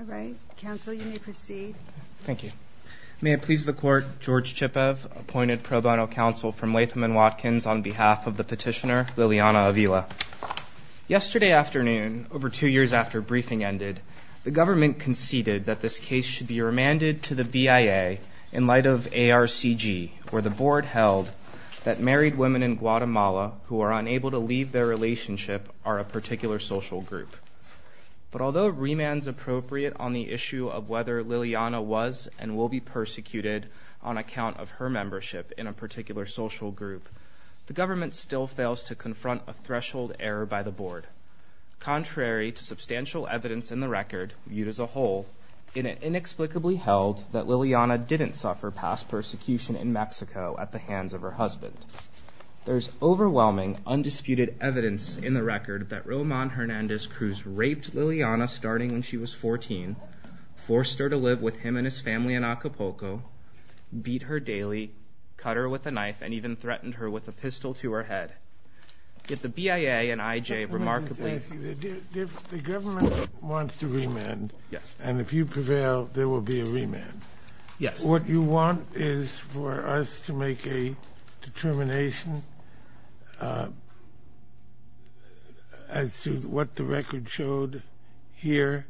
All right, counsel you may proceed. Thank you. May it please the court, George Chipev appointed pro bono counsel from Latham & Watkins on behalf of the petitioner Liliana Avila. Yesterday afternoon, over two years after briefing ended, the government conceded that this case should be remanded to the BIA in light of ARCG, where the board held that married women in Guatemala who are unable to leave their relationship are a particular social group. But although remand is appropriate on the issue of whether Liliana was and will be persecuted on account of her membership in a particular social group, the government still fails to confront a threshold error by the board. Contrary to substantial evidence in the record viewed as a whole, it inexplicably held that Liliana didn't suffer past persecution in Mexico at the hands of her husband. There's overwhelming undisputed evidence in the record that the government wants to remand. Yes. And if you prevail, there will be a remand. Yes. What you want is for us to make a determination as to what the record showed here.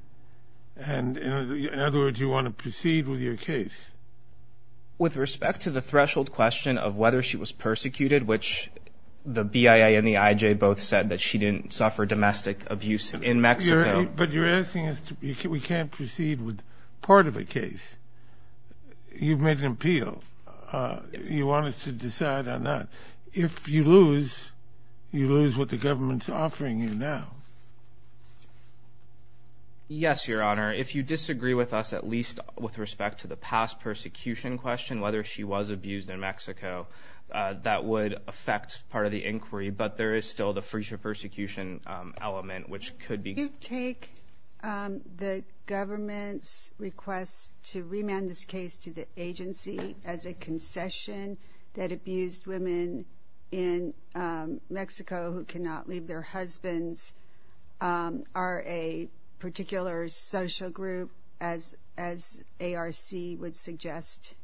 And in other words, you want to proceed with your case. With respect to the threshold question of whether she was persecuted, which the BIA and the IJ both said that she didn't suffer domestic abuse in Mexico. But you're asking us, we can't proceed with part of a case. You've made an appeal. You want us to decide on that. If you lose, you lose what the government's offering you now. Yes, Your Honor. If you disagree with us, at least with respect to the past persecution question, whether she was abused in Mexico, that would affect part of the inquiry. But there is still the freezer persecution element, which could be take the government's request to remand this case to the agency as a concession that abused women in Mexico who cannot leave their husbands. Are a particular social group as as ARC would suggest?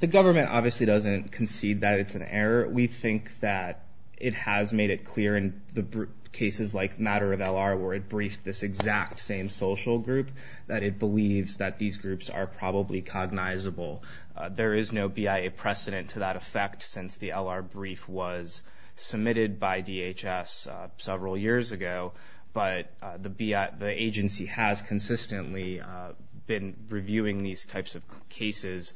The government obviously doesn't concede that it's an error. We think that it has made it clear in the cases like matter of LR where it briefed this exact same social group that it believes that these groups are probably cognizable. There is no BIA precedent to that effect since the LR brief was submitted by DHS several years ago. But the BIA, the agency has consistently been reviewing these types of cases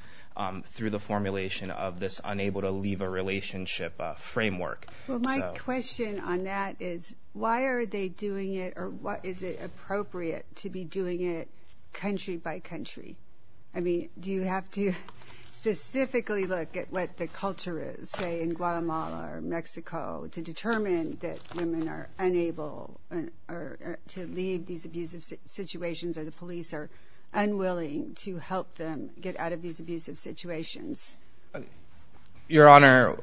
through the formulation of this unable to leave a relationship framework. Well, my question on that is, why are they doing it? Or what is it appropriate to be doing it country by country? I mean, do you have to specifically look at what the culture is, say, in Guatemala or Mexico to determine that women are unable to leave these abusive situations or the police are unwilling to help them get out of these abusive situations? Your Honor,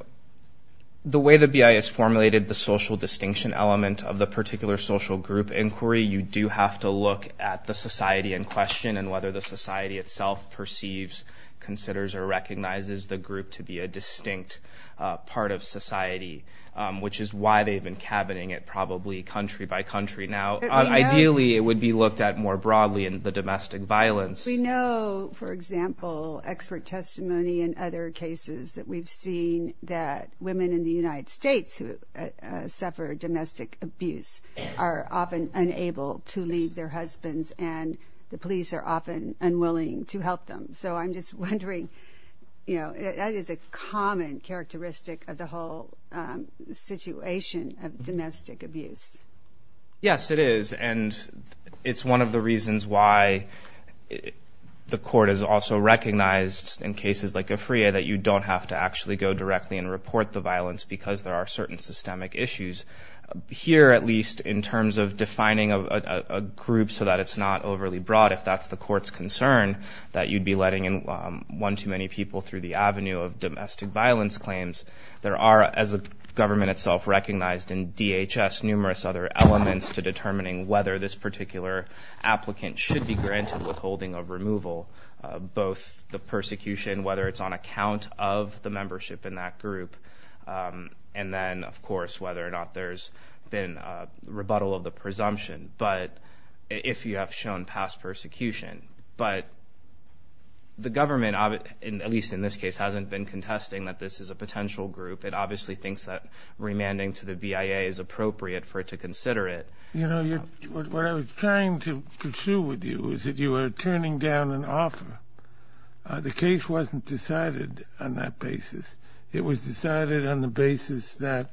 the way the BIA has formulated the social distinction element of the particular social group inquiry, you do have to look at the society in question and whether the society itself perceives, considers or recognizes the group to be a distinct part of society, which is why they've been cabining it probably country by country. Now, ideally, it would be looked at more broadly in the domestic violence. But we know, for example, expert testimony in other cases that we've seen that women in the United States who suffer domestic abuse are often unable to leave their husbands and the police are often unwilling to help them. So I'm just wondering, you know, that is a common characteristic of the whole situation of domestic abuse. Yes, it is. And it's one of the reasons why the court has also recognized in cases like Afria that you don't have to actually go directly and report the violence because there are certain systemic issues. Here, at least, in terms of defining a group so that it's not overly broad, if that's the court's concern, that you'd be letting in one too many people through the avenue of domestic violence claims. There are, as the government itself recognized in DHS, numerous other elements to determining whether this particular applicant should be granted withholding of removal, both the persecution, whether it's on account of the membership in that group, and then, of course, whether or not there's been rebuttal of the presumption, but if you have shown past persecution. But the government, at least in this case, hasn't been contesting that this is a potential group. It obviously thinks that remanding to the BIA is appropriate for it to consider it. You know, what I was trying to pursue with you is that you were turning down an offer. The case wasn't decided on that basis. It was decided on the basis that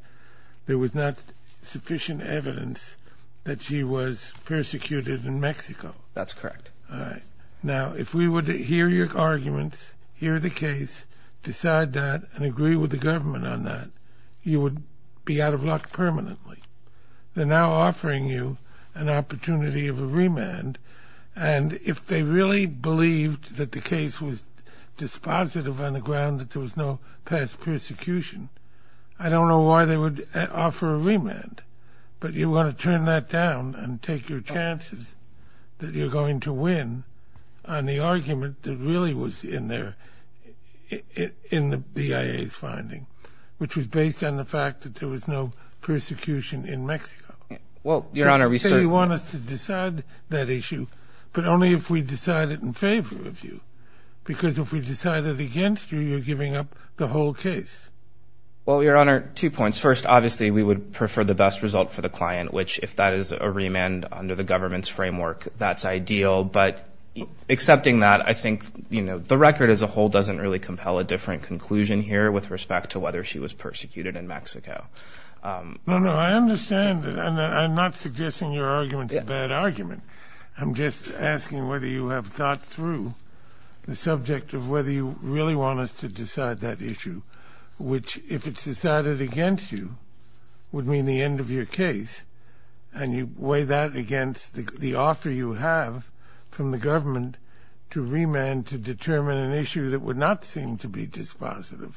there was not sufficient evidence that she was persecuted in Mexico. That's correct. All right. Now, if we would hear your arguments, hear the case, decide that, and agree with the government on that, you would be out of luck permanently. They're now offering you an opportunity of a remand, and if they really believed that the case was dispositive on the ground that there was no past persecution, I don't know why they would offer a remand, but you want to turn that down and take your chances that you're going to win on the argument that really was in the BIA's finding, which was based on the fact that there was no persecution in Mexico. Well, Your Honor, we certainly want us to decide that issue, but only if we decide it in favor of you, because if we decide it against you, you're giving up the whole case. Well, Your Honor, two points. First, obviously, we would prefer the best result for the client, which, if that is a remand under the government's framework, that's ideal, but accepting that, I think, you know, the record as a whole doesn't really compel a different conclusion here with respect to whether she was persecuted in Mexico. No, no, I understand that, and I'm not suggesting your argument's a bad argument. I'm just asking whether you have thought through the subject of whether you really want us to decide that issue, which, if it's decided against you, would mean the end of your case, and you weigh that against the offer you have from the government to remand to determine an issue that would not seem to be dispositive,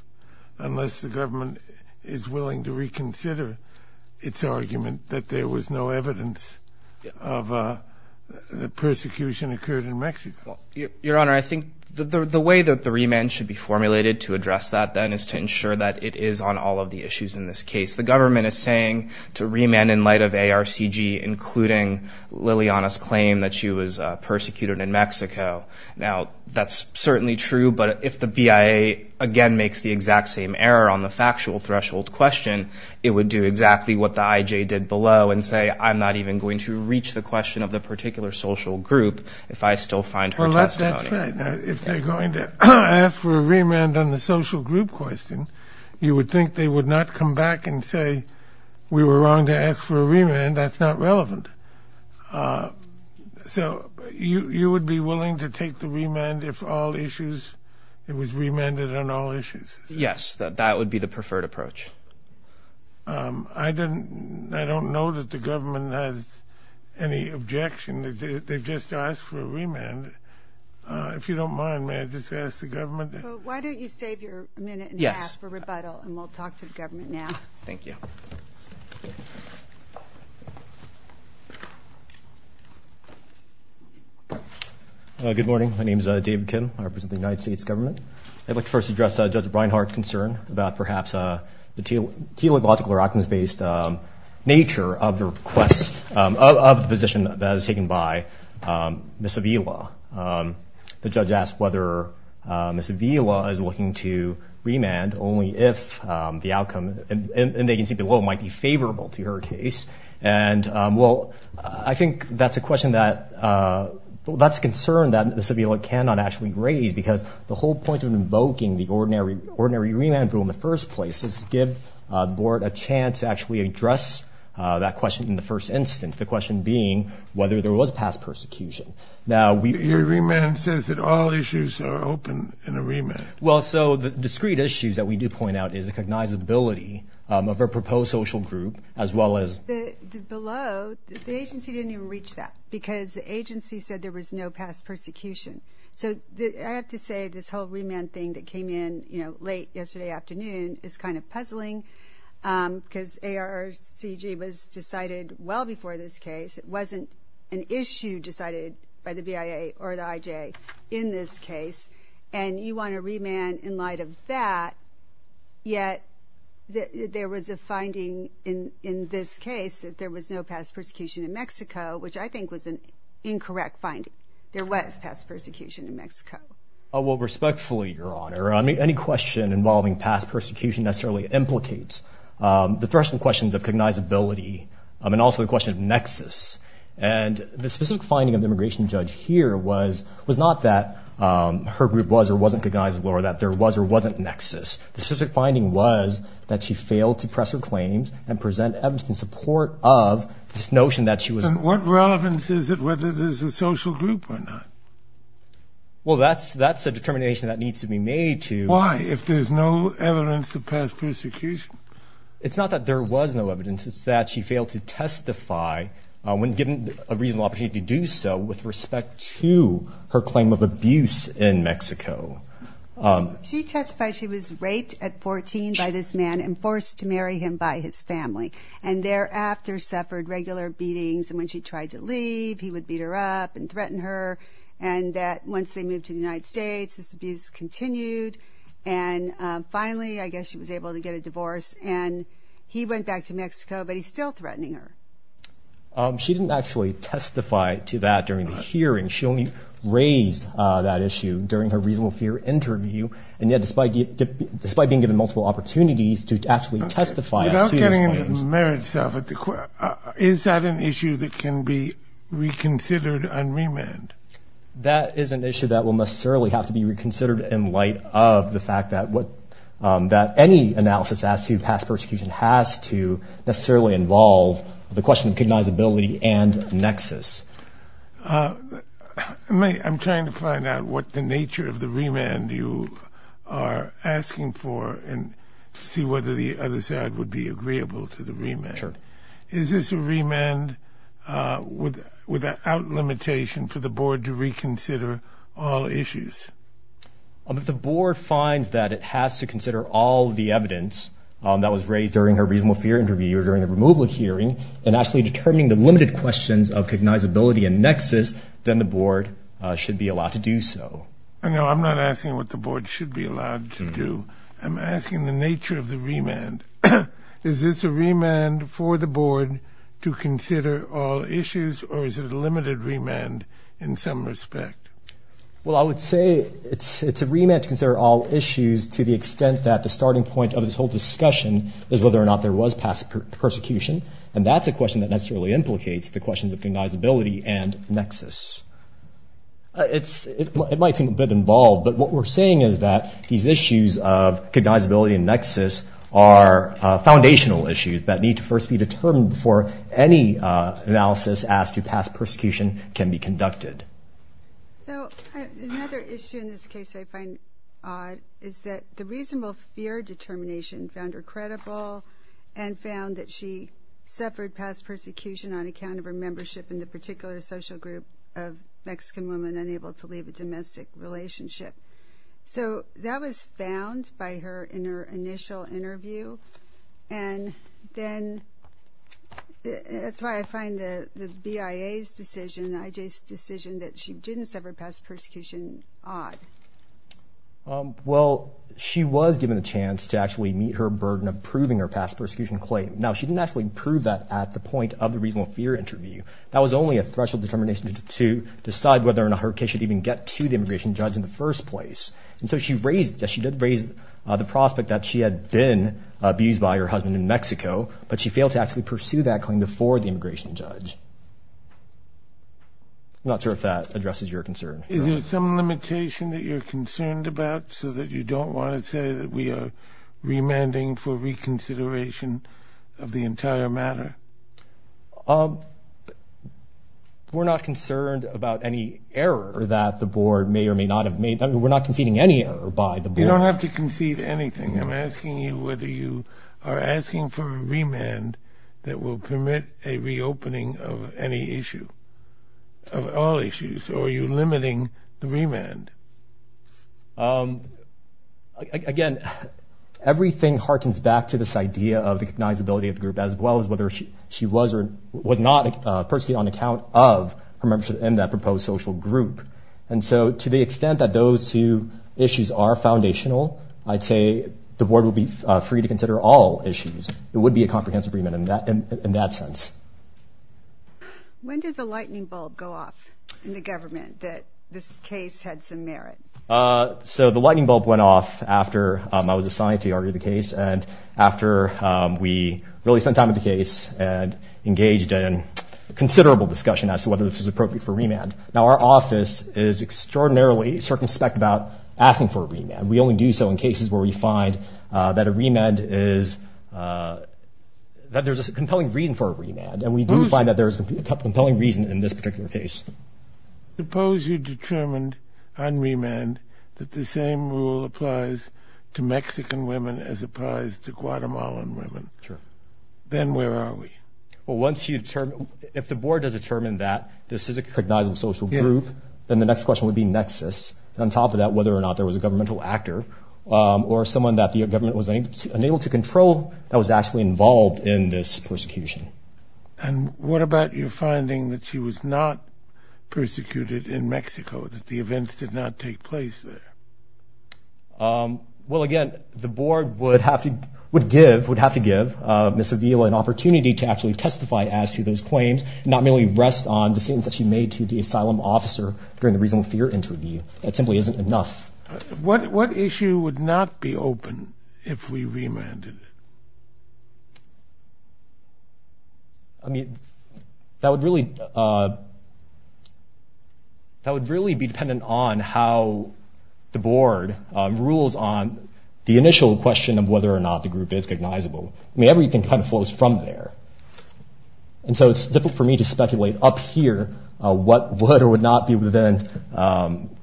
unless the government is willing to reconsider its argument that there was no evidence of persecution occurred in Mexico. Well, Your Honor, I think the way that the remand should be formulated to address that, then, is to ensure that it is on all of the issues in this case. The government is saying to remand in light of ARCG, including Liliana's claim that she was persecuted in Mexico. Now, that's certainly true, but if the BIA, again, makes the exact same error on the factual threshold question, it would do exactly what the IJ did below and say, I'm not even going to reach the question of the particular social group if I still find her testimony. That's right. Now, if they're going to ask for a remand on the social group question, you would think they would not come back and say, we were wrong to ask for a remand, that's not relevant. So, you would be willing to take the remand if all issues, it was remanded on all issues? Yes, that would be the preferred approach. I don't know that the government has any objection. They've just asked for a remand. If you don't mind, may I just ask the government? Why don't you save your minute and a half for rebuttal and we'll talk to the government now. Thank you. Good morning. My name is David Kim. I represent the United States government. I'd like to first address Judge Breinhardt's concern about perhaps the teleological or options-based nature of the request, of the position that is taken by Ms. Avila. The judge asked whether Ms. Avila is looking to remand only if the outcome in the agency below might be favorable to her case. And, well, I think that's a question that, that's a concern that Ms. Avila cannot actually raise because the whole point of invoking the ordinary remand rule in the first place is to give the board a chance to actually address that question in the first instance. The question being whether there was past persecution. Your remand says that all issues are open in a remand. Well, so the discrete issues that we do point out is recognizability of a proposed social group as well as... Below, the agency didn't even reach that because the agency said there was no past persecution. So I have to say this whole remand thing that came in, you know, late yesterday afternoon is kind of puzzling because ARCG was decided well before this case. It wasn't an issue decided by the BIA or the IJ in this case. And you want a remand in light of that, yet there was a finding in this case that there was no past persecution in Mexico, which I think was an incorrect finding. There was past persecution in Mexico. Well, respectfully, Your Honor, any question involving past persecution necessarily implicates the threshold questions of cognizability and also the question of nexus. And the specific finding of the immigration judge here was not that her group was or wasn't cognizable or that there was or wasn't nexus. The specific finding was that she failed to press her claims and present evidence in support of this notion that she was... What relevance is it whether there's a social group or not? Well, that's a determination that needs to be made to... Why? If there's no evidence of past persecution? It's not that there was no evidence. It's that she failed to testify when given a reasonable opportunity to do so with respect to her claim of abuse in Mexico. She testified she was raped at 14 by this man and forced to marry him by his family and thereafter suffered regular beatings. And when she tried to leave, he would beat her up and threaten her. And that once they moved to the United States, this abuse continued. And finally, I guess she was able to get a divorce and he went back to Mexico, but he's still threatening her. She didn't actually testify to that during the hearing. She only raised that issue during her reasonable fear interview. And yet, despite being given multiple opportunities to actually testify... Is that an issue that can be reconsidered on remand? That is an issue that will necessarily have to be reconsidered in light of the fact that any analysis as to past persecution has to necessarily involve the question of cognizability and nexus. I'm trying to find out what the nature of the remand you are asking for and see whether the other side would be agreeable to the remand. Is this a remand without limitation for the board to reconsider all issues? If the board finds that it has to consider all the evidence that was raised during her reasonable fear interview or during the removal hearing and actually determining the limited questions of cognizability and nexus, then the board should be allowed to do so. No, I'm not asking what the board should be allowed to do. I'm asking the nature of the remand. Is this a remand for the board to consider all issues or is it a limited remand in some respect? Well, I would say it's a remand to consider all issues to the extent that the starting point of this whole discussion is whether or not there was past persecution. And that's a question that necessarily implicates the questions of cognizability and nexus. It might seem a bit involved, but what we're saying is that these issues of cognizability and nexus are foundational issues that need to first be determined before any analysis as to past persecution can be conducted. So another issue in this case I find odd is that the reasonable fear determination found her credible and found that she suffered past persecution on account of her membership in the particular social group of Mexican women unable to leave a domestic relationship. So that was found by her in her initial interview. And then that's why I find the BIA's decision, IJ's decision, that she didn't suffer past persecution odd. Well, she was given a chance to actually meet her burden of proving her past persecution claim. Now, she didn't actually prove that at the point of the reasonable fear interview. That was only a threshold determination to decide whether or not her case should even get to the immigration judge in the first place. And so she did raise the prospect that she had been abused by her husband in Mexico, but she failed to actually pursue that claim before the immigration judge. I'm not sure if that addresses your concern. Is there some limitation that you're concerned about so that you don't want to say that we are remanding for reconsideration of the entire matter? We're not concerned about any error that the board may or may not have made. We're not conceding any error by the board. You don't have to concede anything. I'm asking you whether you are asking for a remand that will permit a reopening of any issue, of all issues, or are you limiting the remand? Again, everything harkens back to this idea of recognizability of the group, as well as whether she was or was not persecuted on account of her membership in that proposed social group. And so to the extent that those two issues are foundational, I'd say the board will be free to consider all issues. It would be a comprehensive remand in that sense. When did the lightning bulb go off in the government that this case had some merit? So the lightning bulb went off after I was assigned to argue the case and after we really spent time with the case and engaged in considerable discussion as to whether this was appropriate for remand. Now our office is extraordinarily circumspect about asking for a remand. We only do so in cases where we find that a remand is, that there's a compelling reason for a remand. And we do find that there is a compelling reason in this particular case. Suppose you determined on remand that the same rule applies to Mexican women as it applies to Guatemalan women. Then where are we? Well, once you determine, if the board has determined that this is a cognizant social group, then the next question would be nexus, and on top of that, whether or not there was a governmental actor or someone that the government was unable to control that was actually involved in this persecution. And what about your finding that she was not persecuted in Mexico, that the events did not take place there? Well, again, the board would have to give Ms. Avila an opportunity to actually testify as to those claims and not merely rest on the statements that she made to the asylum officer during the reasonable fear interview. That simply isn't enough. What issue would not be open if we remanded? I mean, that would really be dependent on how the board rules on the initial question of whether or not the group is cognizable. I mean, everything kind of flows from there. And so it's difficult for me to speculate up here what would or would not be within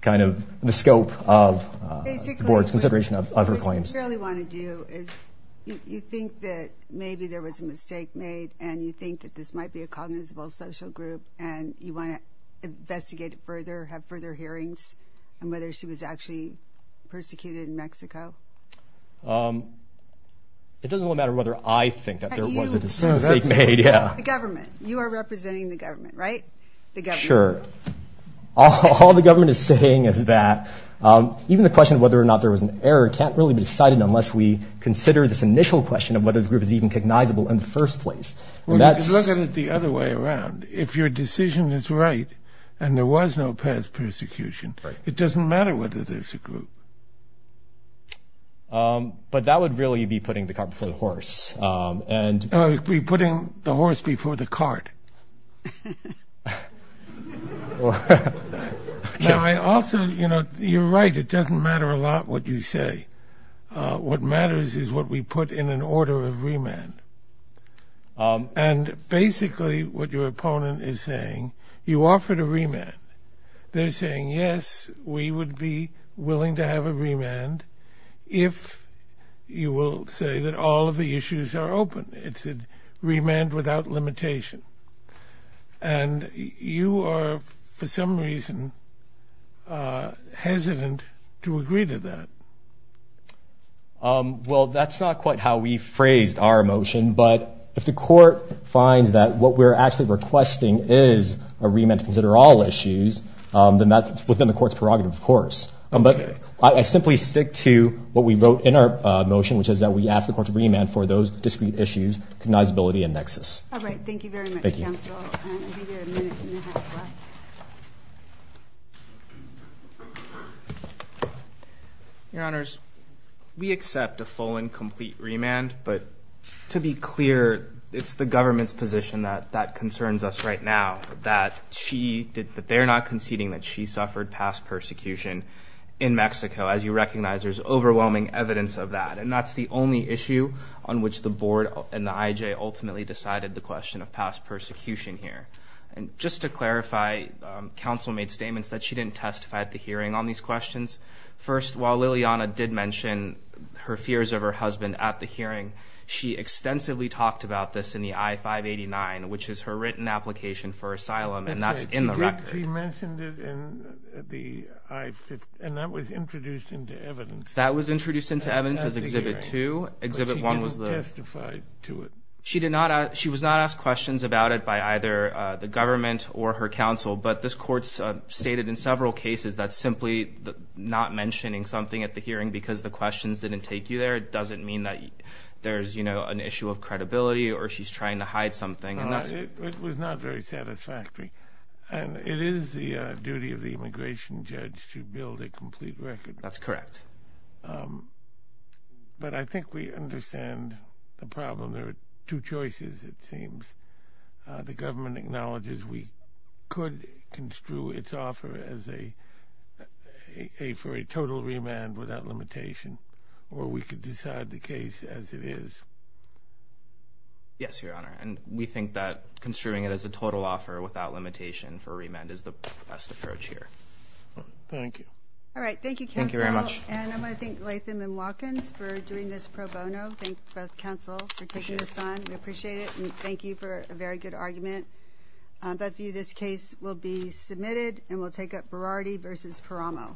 kind of the scope of the board's consideration of her claims. What I really want to do is, you think that maybe there was a mistake made, and you think that this might be a cognizable social group, and you want to investigate it further, have further hearings on whether she was actually persecuted in Mexico? It doesn't really matter whether I think that there was a mistake made. The government. You are representing the government, right? Sure. All the government is saying is that. Even the question of whether or not there was an error can't really be decided unless we consider this initial question of whether the group is even cognizable in the first place. Well, you can look at it the other way around. If your decision is right and there was no past persecution, it doesn't matter whether there's a group. But that would really be putting the cart before the horse. Now I also, you know, you're right. It doesn't matter a lot what you say. What matters is what we put in an order of remand. And basically what your opponent is saying, you offered a remand. They're saying, yes, we would be willing to have a remand if you will say that all of the issues are open. It's a remand without limitation. And you are, for some reason, hesitant to agree to that. Well, that's not quite how we phrased our motion. But if the court finds that what we're actually requesting is a remand to consider all issues, then that's within the court's prerogative, of course. But I simply stick to what we wrote in our motion, which is that we ask the court to remand for those discrete issues, cognizability and nexus. All right. Thank you very much, counsel. Thank you. Your Honors, we accept a full and complete remand. But to be clear, it's the government's position that that concerns us right now. That she, that they're not conceding that she suffered past persecution in Mexico. As you recognize, there's overwhelming evidence of that. And that's the only issue on which the board and the IJ ultimately decided the question of past persecution here. And just to clarify, counsel made statements that she didn't testify at the hearing on these questions. First, while Liliana did mention her fears of her husband at the hearing, she extensively talked about this in the I-589, which is her written application for asylum. And that's in the record. She did. She mentioned it in the I-589. And that was introduced into evidence. That was introduced into evidence as Exhibit 2. Exhibit 1 was the... But she didn't testify to it. She did not. She was not asked questions about it by either the government or her counsel. But this court stated in several cases that simply not mentioning something at the hearing because the questions didn't take you there doesn't mean that there's, you know, an issue of credibility or she's trying to hide something. It was not very satisfactory. And it is the duty of the immigration judge to build a complete record. That's correct. But I think we understand the problem. There are two choices, it seems. The government acknowledges we could construe its offer as a... for a total remand without limitation or we could decide the case as it is. Yes, Your Honor. And we think that construing it as a total offer without limitation for remand is the best approach here. Thank you. All right. Thank you, counsel. Thank you very much. And I want to thank Latham and Watkins for doing this pro bono. Thank both counsel for taking this on. We appreciate it and thank you for a very good argument. Both of you, this case will be submitted and we'll take up Berardi v. Paramo.